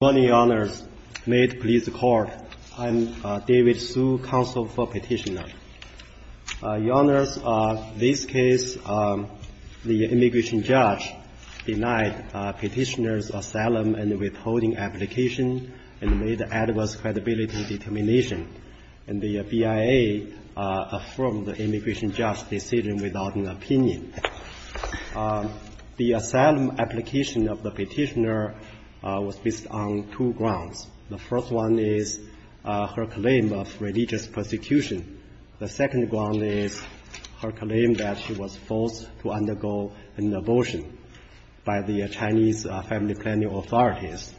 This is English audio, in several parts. Good morning, Your Honors. May it please the Court, I'm David Hsu, Counsel for Petitioner. Your Honors, this case, the immigration judge denied petitioner's asylum and withholding application and made adverse credibility determination. And the BIA affirmed the immigration judge's decision without an opinion. The asylum application of the petitioner was based on two grounds. The first one is her claim of religious persecution. The second ground is her claim that she was forced to undergo an abortion by the Chinese family planning authorities.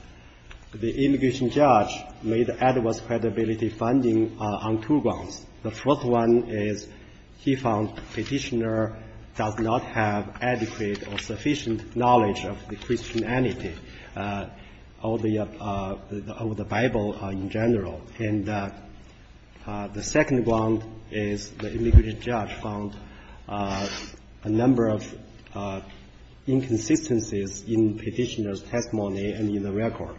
The immigration judge made adverse credibility finding on two grounds. The first one is he found petitioner does not have adequate or sufficient knowledge of the Christianity or the Bible in general. And the second ground is the immigration judge found a number of inconsistencies in petitioner's testimony and in the record.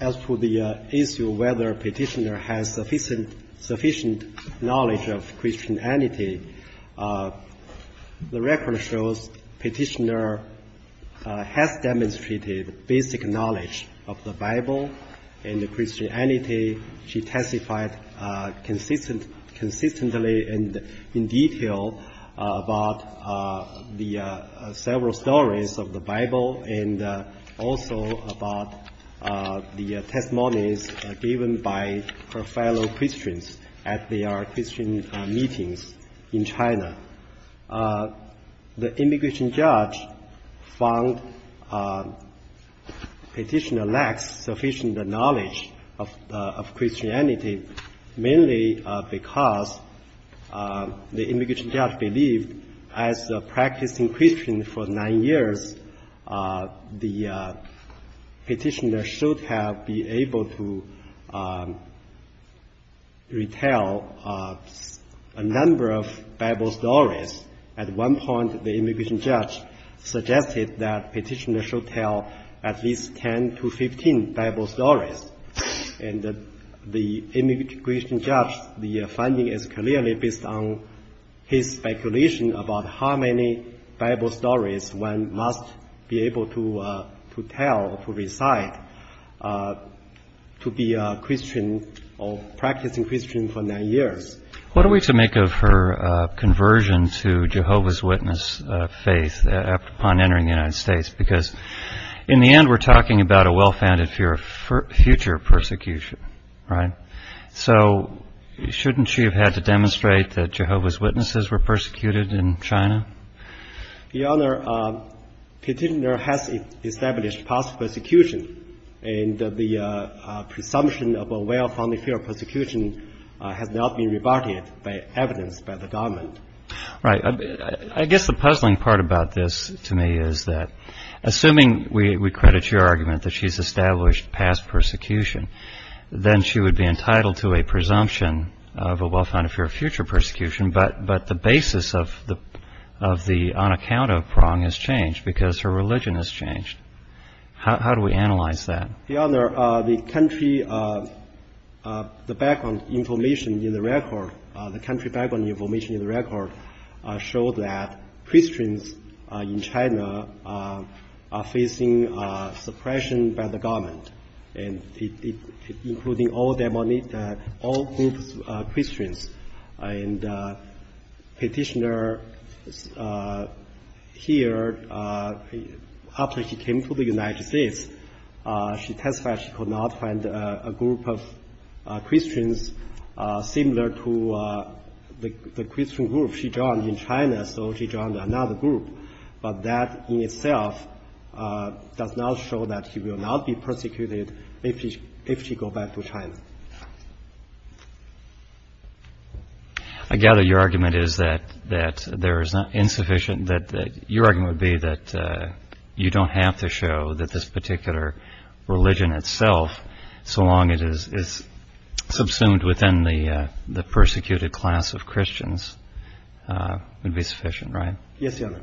As to the issue whether petitioner has sufficient knowledge of Christianity, the record shows petitioner has demonstrated basic knowledge of the Bible and the Christianity. She testified consistently and in detail about the several stories of the Bible and also about the testimonies given by her fellow Christians at their Christian meetings in China. The immigration judge found petitioner lacks sufficient knowledge of Christianity mainly because the immigration judge believed as a practicing Christian for nine years, the petitioner should have been able to retell a number of Bible stories. At one point, the immigration judge suggested that petitioner should tell at least 10 to 15 Bible stories. And the immigration judge, the finding is clearly based on his speculation about how many Bible stories one must be able to tell, to recite, to be a Christian or practicing Christian for nine years. What are we to make of her conversion to Jehovah's Witness faith upon entering the United States? Because in the end, we're talking about a well-founded fear of future persecution, right? So shouldn't she have had to demonstrate that Jehovah's Witnesses were persecuted in China? Your Honor, petitioner has established past persecution and the presumption of a well-founded fear of persecution has not been rebutted by evidence by the government. Right. I guess the puzzling part about this to me is that assuming we credit your argument that she's established past persecution, then she would be entitled to a presumption of a well-founded fear of future persecution, but the basis of the on-account of prong has changed because her religion has changed. How do we analyze that? Your Honor, the country background information in the record showed that Christians in China are facing suppression by the government. And including all groups of Christians. And petitioner here, after she came to the United States, she testified she could not find a group of Christians similar to the Christian group she joined in China. So she joined another group, but that in itself does not show that she will not be persecuted if she go back to China. I gather your argument is that there is insufficient, that your argument would be that you don't have to show that this particular religion itself, so long as it is subsumed within the persecuted class of Christians, would be sufficient, right? Yes, Your Honor.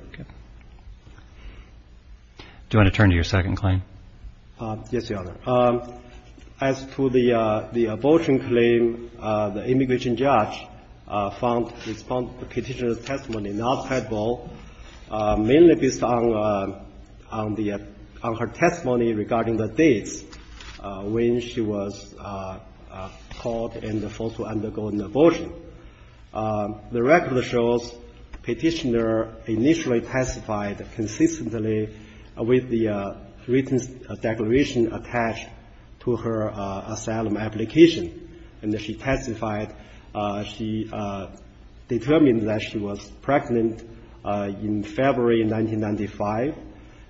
Do you want to turn to your second claim? Yes, Your Honor. As to the abortion claim, the immigration judge found the petitioner's testimony not credible, mainly based on her testimony regarding the dates when she was caught and forced to undergo an abortion. The record shows petitioner initially testified consistently with the written declaration attached to her asylum application. And she testified she determined that she was pregnant in February 1995.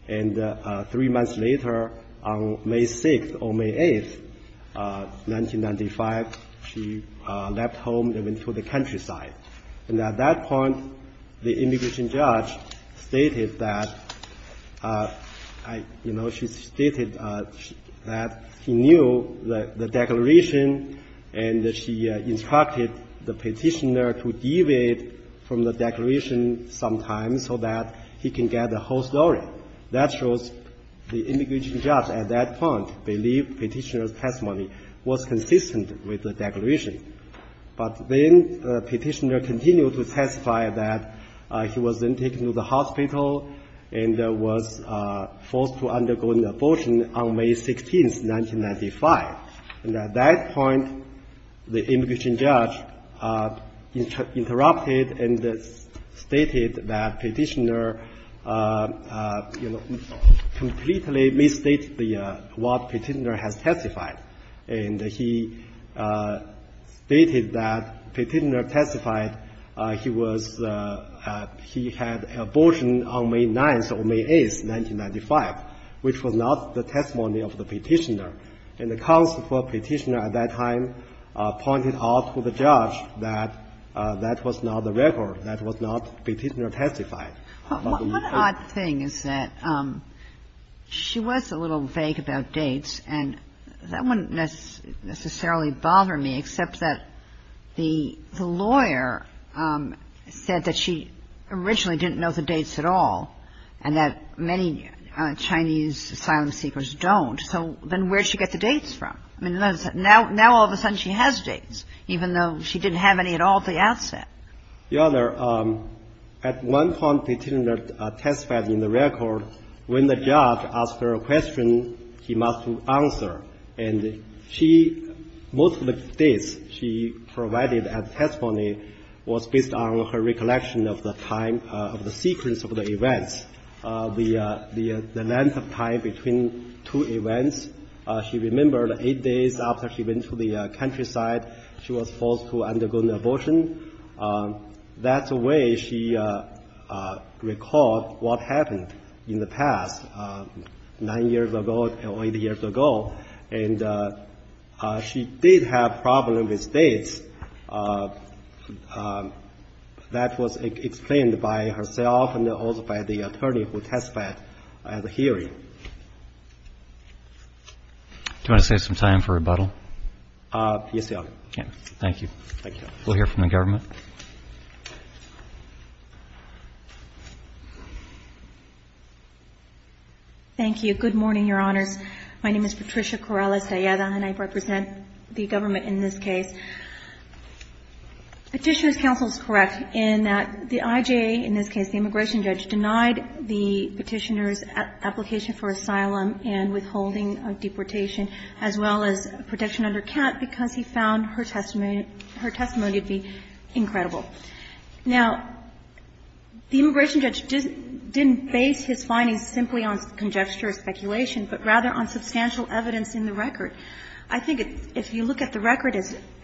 And three months later, on May 6th or May 8th, 1995, she left home and went to the countryside. And at that point, the immigration judge stated that, you know, she stated that she knew the declaration and that she instructed the petitioner to deviate from the declaration sometimes so that he can get the whole story. That shows the immigration judge at that point believed petitioner's testimony was consistent with the declaration. But then the petitioner continued to testify that she was then taken to the hospital and was forced to undergo an abortion on May 16th, 1995. And at that point, the immigration judge interrupted and stated that petitioner, you know, completely misstated what petitioner has testified. And he stated that petitioner testified he was he had abortion on May 9th or May 8th, 1995, which was not the testimony of the petitioner. And the counsel for petitioner at that time pointed out to the judge that that was not the record, that was not petitioner testified. The other thing is that she was a little vague about dates, and that wouldn't necessarily bother me except that the lawyer said that she originally didn't know the dates at all and that many Chinese asylum seekers don't. So then where did she get the dates from? I mean, now all of a sudden she has dates, even though she didn't have any at all at the outset. Your Honor, at one point petitioner testified in the record when the judge asked her a question, he must answer. And she, most of the dates she provided at testimony was based on her recollection of the time of the sequence of the events, the length of time between two events. She remembered eight days after she went to the countryside, she was forced to undergo an abortion. That's the way she recalled what happened in the past, nine years ago or eight years ago. And she did have problems with dates. That was explained by herself and also by the attorney who testified at the hearing. Do you want to save some time for rebuttal? Yes, Your Honor. Thank you. Thank you, Your Honor. We'll hear from the government. Thank you. Good morning, Your Honors. My name is Patricia Corrales-Alleda, and I represent the government in this case. Petitioner's counsel is correct in that the IJA, in this case the immigration judge, denied the petitioner's application for asylum and withholding of deportation as well as protection under count because he found her testimony to be incredible. Now, the immigration judge didn't base his findings simply on conjecture or speculation, but rather on substantial evidence in the record. I think if you look at the record,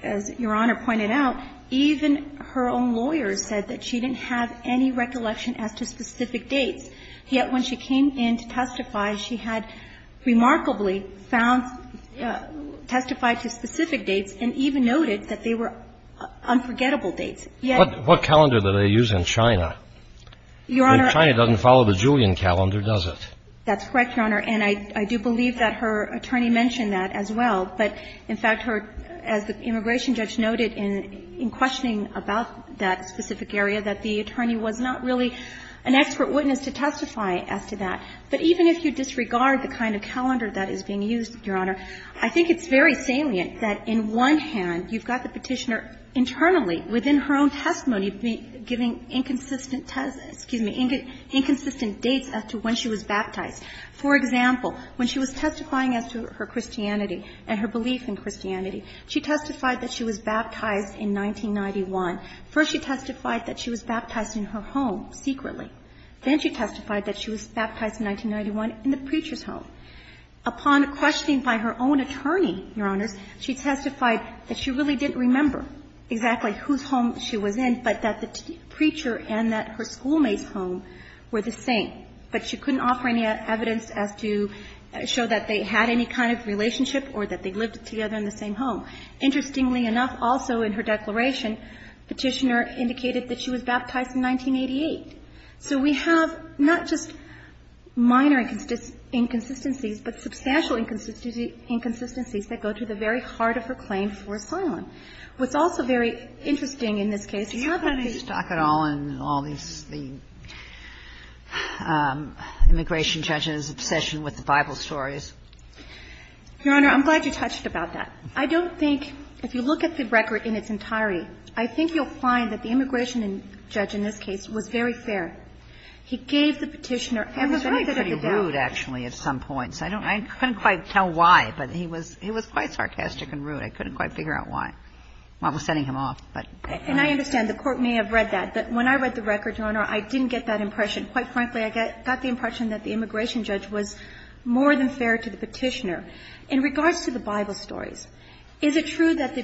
as Your Honor pointed out, even her own lawyer said that she didn't have any recollection as to specific dates. Yet when she came in to testify, she had remarkably found, testified to specific dates, and even noted that they were unforgettable dates. Yet what calendar do they use in China? Your Honor. China doesn't follow the Julian calendar, does it? That's correct, Your Honor, and I do believe that her attorney mentioned that as well. But, in fact, her, as the immigration judge noted in questioning about that specific area, that the attorney was not really an expert witness to testify as to that. But even if you disregard the kind of calendar that is being used, Your Honor, I think it's very salient that in one hand you've got the petitioner internally, within her own testimony, giving inconsistent, excuse me, inconsistent dates as to when she was baptized. For example, when she was testifying as to her Christianity and her belief in Christianity, she testified that she was baptized in 1991. First she testified that she was baptized in her home, secretly. Then she testified that she was baptized in 1991 in the preacher's home. Upon questioning by her own attorney, Your Honors, she testified that she really didn't remember exactly whose home she was in, but that the preacher and that her schoolmate's home were the same. But she couldn't offer any evidence as to show that they had any kind of relationship or that they lived together in the same home. Interestingly enough, also in her declaration, Petitioner indicated that she was baptized in 1988. So we have not just minor inconsistencies, but substantial inconsistencies that go to the very heart of her claim for asylum. What's also very interesting in this case is how that is stuck. Kagan in all these, the immigration judge's obsession with the Bible stories. Your Honor, I'm glad you touched about that. I don't think, if you look at the record in its entirety, I think you'll find that the immigration judge in this case was very fair. He gave the Petitioner every benefit of the doubt. Kagan I was really pretty rude, actually, at some points. I don't know. I couldn't quite tell why, but he was quite sarcastic and rude. I couldn't quite figure out why. I was sending him off, but. And I understand the Court may have read that, but when I read the record, Your Honor, I didn't get that impression. Quite frankly, I got the impression that the immigration judge was more than fair to the Petitioner. In regards to the Bible stories, is it true that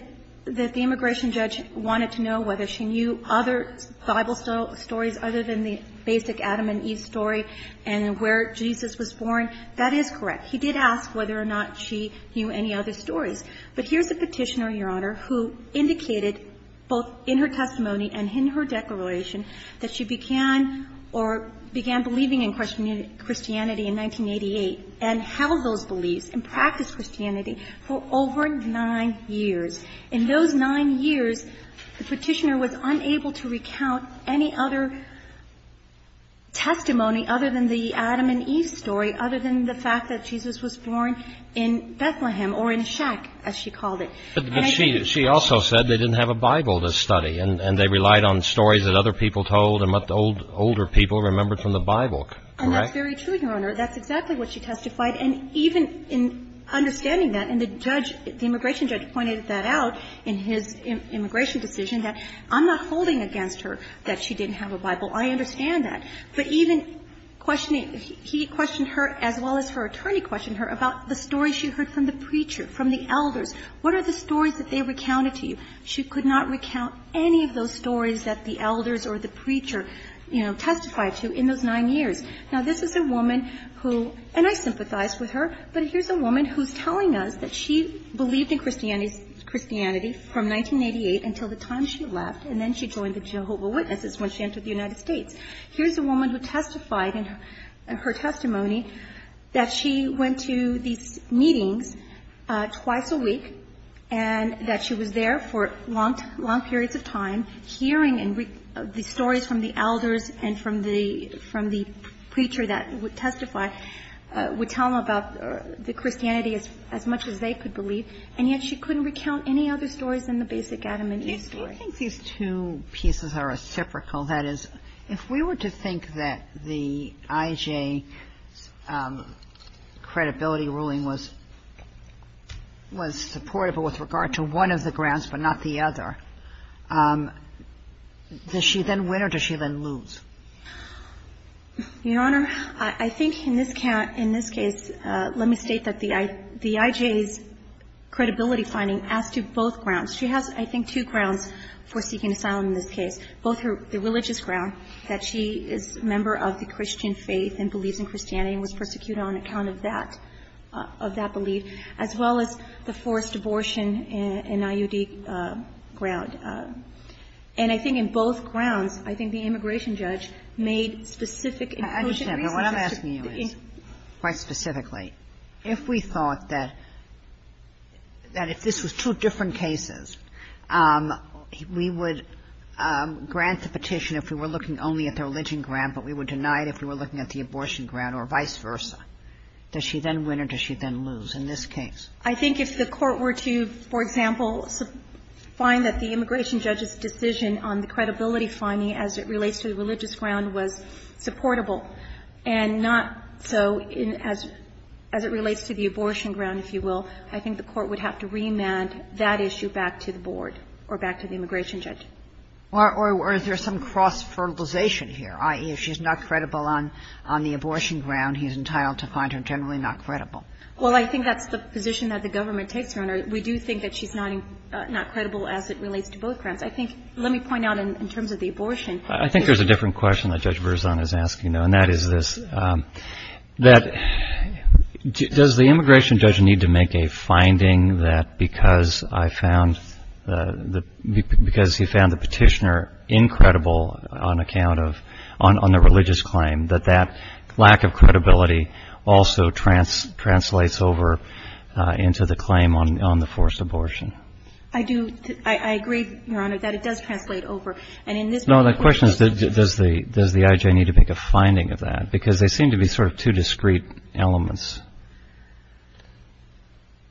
the immigration judge wanted to know whether she knew other Bible stories other than the basic Adam and Eve story and where Jesus was born? That is correct. He did ask whether or not she knew any other stories. But here's the Petitioner, Your Honor, who indicated both in her testimony and in her declaration that she began or began believing in Christianity in 1988 and held those practices, Christianity, for over nine years. In those nine years, the Petitioner was unable to recount any other testimony other than the Adam and Eve story, other than the fact that Jesus was born in Bethlehem or in Shek, as she called it. But she also said they didn't have a Bible to study, and they relied on stories that other people told and what the older people remembered from the Bible, correct? And that's very true, Your Honor. That's exactly what she testified. And even in understanding that, and the judge, the immigration judge pointed that out in his immigration decision that I'm not holding against her that she didn't have a Bible. I understand that. But even questioning, he questioned her as well as her attorney questioned her about the story she heard from the preacher, from the elders. What are the stories that they recounted to you? She could not recount any of those stories that the elders or the preacher, you know, testified to in those nine years. Now, this is a woman who, and I sympathize with her, but here's a woman who's telling us that she believed in Christianity from 1988 until the time she left, and then she joined the Jehovah Witnesses when she entered the United States. Here's a woman who testified in her testimony that she went to these meetings twice a week, and that she was there for long periods of time hearing the stories from the elders and from the preacher that would testify, would tell them about the Christianity as much as they could believe, and yet she couldn't recount any other stories than the basic Adam and Eve story. Do you think these two pieces are reciprocal? That is, if we were to think that the IJ's credibility ruling was supportable with regard to one of the grounds but not the other, does she then win or does she then lose? Your Honor, I think in this case, let me state that the IJ's credibility finding asks to both grounds. She has, I think, two grounds for seeking asylum in this case, both the religious ground that she is a member of the Christian faith and believes in Christianity and was persecuted on account of that belief, as well as the forced abortion and IUD ground. And I think in both grounds, I think the immigration judge made specific and quotient reasons to the IJ. I understand, but what I'm asking you is, quite specifically, if we thought that if this was two different cases, we would grant the petition if we were looking only at the religion ground, but we would deny it if we were looking at the abortion ground or vice versa, does she then win or does she then lose in this case? I think if the Court were to, for example, find that the immigration judge's decision on the credibility finding as it relates to the religious ground was supportable and not so in as it relates to the abortion ground, if you will, I think the Court would have to remand that issue back to the board or back to the immigration judge. Or is there some cross-fertilization here, i.e., if she's not credible on the abortion ground, he's entitled to find her generally not credible? Well, I think that's the position that the government takes, Your Honor. We do think that she's not credible as it relates to both grounds. I think, let me point out in terms of the abortion. I think there's a different question that Judge Verzon is asking, though, and that is this, that does the immigration judge need to make a finding that because I found, because he found the petitioner incredible on account of, on the religious claim, that that lack of credibility also translates over into the claim on the forced abortion? I do, I agree, Your Honor, that it does translate over, and in this No, the question is, does the IJ need to make a finding of that? Because they seem to be sort of two discrete elements.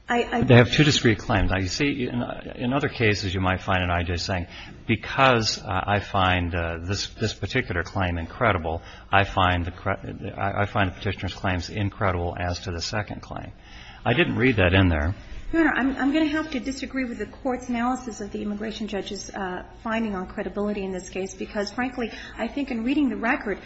They have two discrete claims. Now, you see, in other cases, you might find an IJ saying, because I find this particular claim incredible, I find the, I find the petitioner's claims incredible as to the second claim. I didn't read that in there. Your Honor, I'm going to have to disagree with the Court's analysis of the immigration judge's finding on credibility in this case, because, frankly, I think in reading the record,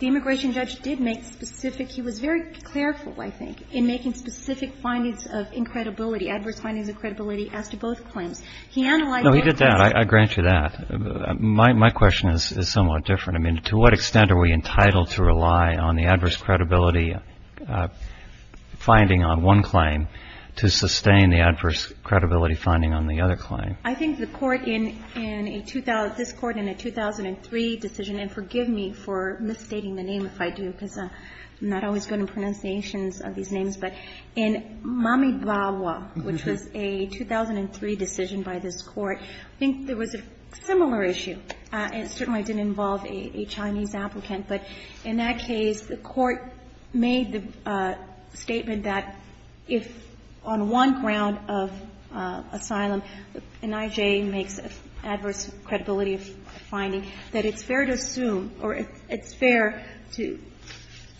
the immigration judge did make specific, he was very careful, I think, in making specific findings of incredibility, adverse findings of credibility as to both claims. He analyzed both claims. No, he did that. I grant you that. My question is somewhat different. I mean, to what extent are we entitled to rely on the adverse credibility finding on one claim to sustain the adverse credibility finding on the other claim? I think the Court in a, this Court in a 2003 decision, and forgive me for misstating the name if I do, because I'm not always good in pronunciations of these names, but in Mamidvawa, which was a 2003 decision by this Court, I think there was a similar issue. It certainly didn't involve a Chinese applicant, but in that case, the Court made the statement that if on one ground of asylum, an I.J. makes adverse credibility finding, that it's fair to assume, or it's fair to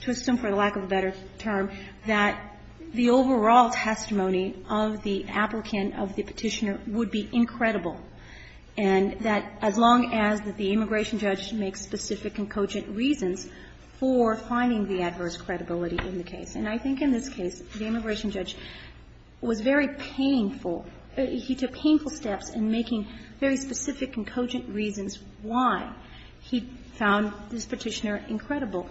assume, for lack of a better term, that the overall testimony of the applicant, of the Petitioner, would be incredible and that as long as the immigration judge makes specific and cogent reasons for finding the adverse credibility in the case. And I think in this case, the immigration judge was very painful. He took painful steps in making very specific and cogent reasons why he found this Petitioner incredible.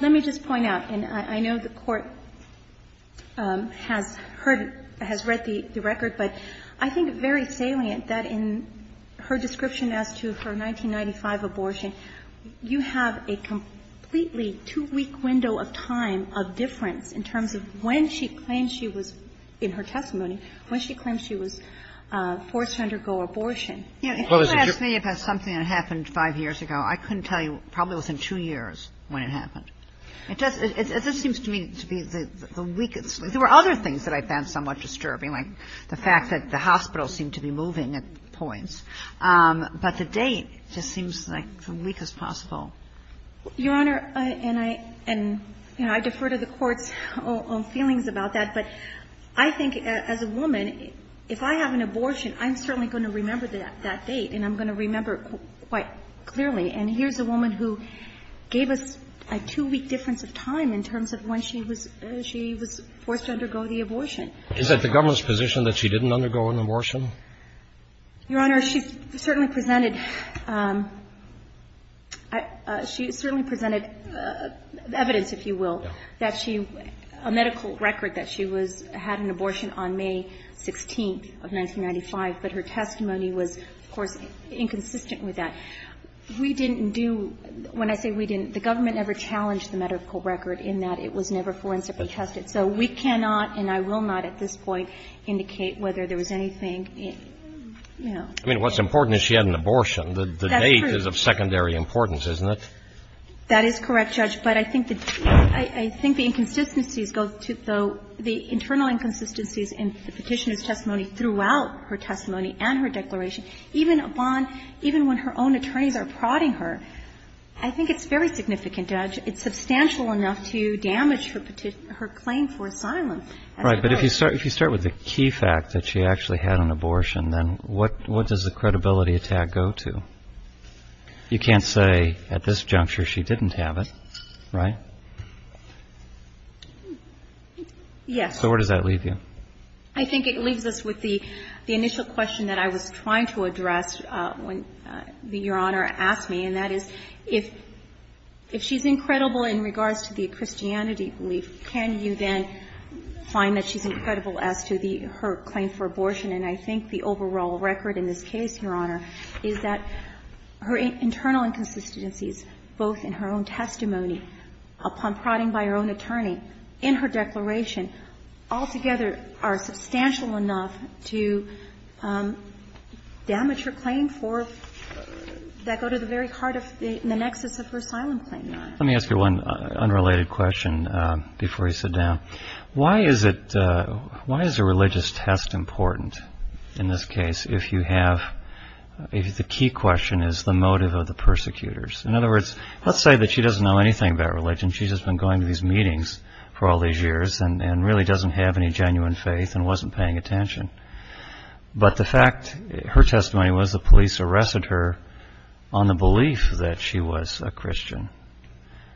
Let me just point out, and I know the Court has heard, has read the record, but I think it's very salient that in her description as to her 1995 abortion, you have a completely two-week window of time of difference in terms of when she claims she was, in her testimony, when she claims she was forced to undergo abortion. Kagan. If you were to ask me about something that happened five years ago, I couldn't tell you probably within two years when it happened. It just seems to me to be the weakest link. I mean, there were other things that I found somewhat disturbing, like the fact that the hospital seemed to be moving at points, but the date just seems like the weakest possible. Your Honor, and I defer to the Court's own feelings about that, but I think as a woman, if I have an abortion, I'm certainly going to remember that date, and I'm going to remember it quite clearly. And here's a woman who gave us a two-week difference of time in terms of when she was, she was forced to undergo the abortion. Is it the government's position that she didn't undergo an abortion? Your Honor, she certainly presented, she certainly presented evidence, if you will, that she, a medical record that she was, had an abortion on May 16th of 1995, but her testimony was, of course, inconsistent with that. We didn't do, when I say we didn't, the government never challenged the medical record in that it was never forensically tested. So we cannot, and I will not at this point, indicate whether there was anything in, you know. I mean, what's important is she had an abortion. The date is of secondary importance, isn't it? That is correct, Judge. But I think the, I think the inconsistencies go to, though, the internal inconsistencies in the Petitioner's testimony throughout her testimony and her declaration, even upon, even when her own attorneys are prodding her, I think it's very significant, Judge. It's substantial enough to damage her claim for asylum. Right, but if you start with the key fact that she actually had an abortion, then what does the credibility attack go to? You can't say at this juncture she didn't have it, right? Yes. So where does that leave you? I think it leaves us with the initial question that I was trying to address when I said that if she's incredible in regards to the Christianity belief, can you then find that she's incredible as to the, her claim for abortion? And I think the overall record in this case, Your Honor, is that her internal inconsistencies, both in her own testimony, upon prodding by her own attorney, in her declaration, altogether are substantial enough to damage her claim for, that go to the very heart of the nexus of her asylum claim, Your Honor. Let me ask you one unrelated question before you sit down. Why is it, why is a religious test important in this case, if you have, if the key question is the motive of the persecutors? In other words, let's say that she doesn't know anything about religion. She's just been going to these meetings for all these years and really doesn't have any genuine faith and wasn't paying attention. But the fact, her testimony was the police arrested her on the belief that she was a Christian.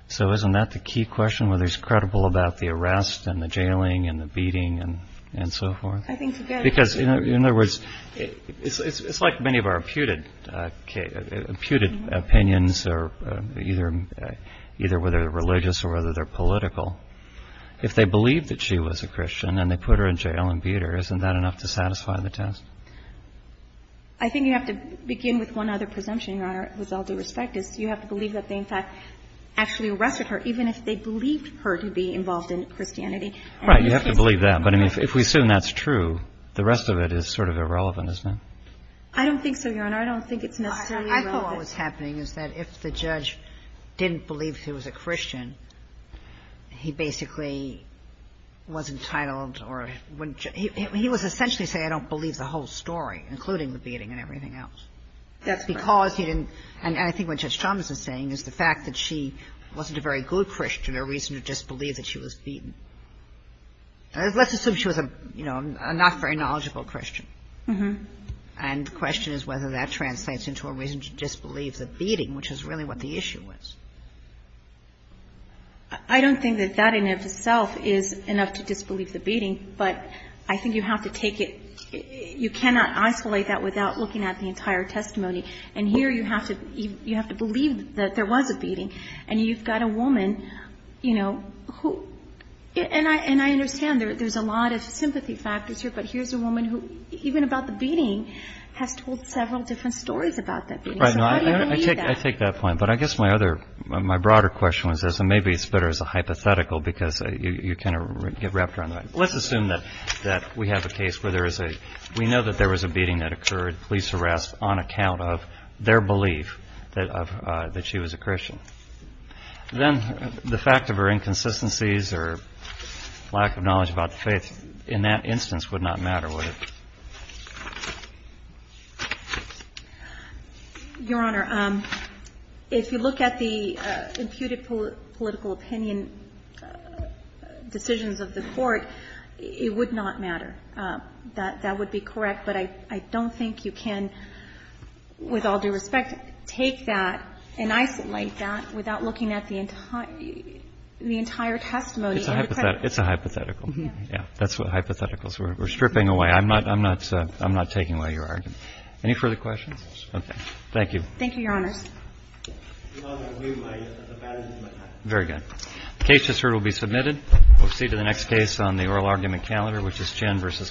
So isn't that the key question, whether she's credible about the arrest and the jailing and the beating and so forth? I think it's a good- Because in other words, it's like many of our imputed opinions are either, either whether they're religious or whether they're political. If they believe that she was a Christian and they put her in jail and they put her in jail to satisfy the test. I think you have to begin with one other presumption, Your Honor, with all due respect, is you have to believe that they, in fact, actually arrested her, even if they believed her to be involved in Christianity. Right, you have to believe that. But I mean, if we assume that's true, the rest of it is sort of irrelevant, isn't it? I don't think so, Your Honor. I don't think it's necessarily relevant. He basically was entitled, or he was essentially saying I don't believe the whole story, including the beating and everything else. That's because he didn't, and I think what Judge Chalmers is saying is the fact that she wasn't a very good Christian, a reason to disbelieve that she was beaten. Let's assume she was a, you know, a not very knowledgeable Christian. And the question is whether that translates into a reason to disbelieve the beating, which is really what the issue was. I don't think that that in and of itself is enough to disbelieve the beating, but I think you have to take it, you cannot isolate that without looking at the entire testimony, and here you have to believe that there was a beating. And you've got a woman, you know, who, and I understand there's a lot of sympathy factors here, but here's a woman who, even about the beating, has told several different stories about that beating. So how do you believe that? I take that point, but I guess my other, my broader question was this, maybe it's better as a hypothetical, because you kind of get wrapped around that. Let's assume that we have a case where there is a, we know that there was a beating that occurred, police arrest on account of their belief that she was a Christian. Then the fact of her inconsistencies or lack of knowledge about the faith, in that instance, would not matter, would it? Your Honor, if you look at the imputed political opinion decisions of the Court, it would not matter. That would be correct, but I don't think you can, with all due respect, take that and isolate that without looking at the entire testimony. It's a hypothetical. It's a hypothetical. Yeah. Yeah. That's what hypotheticals are. We're stripping away. I'm not, I'm not, I'm not taking away your argument. Any further questions? Okay. Thank you. Thank you, Your Honors. Very good. Case just heard will be submitted. We'll proceed to the next case on the oral argument calendar, which is Chinn versus Gonzales.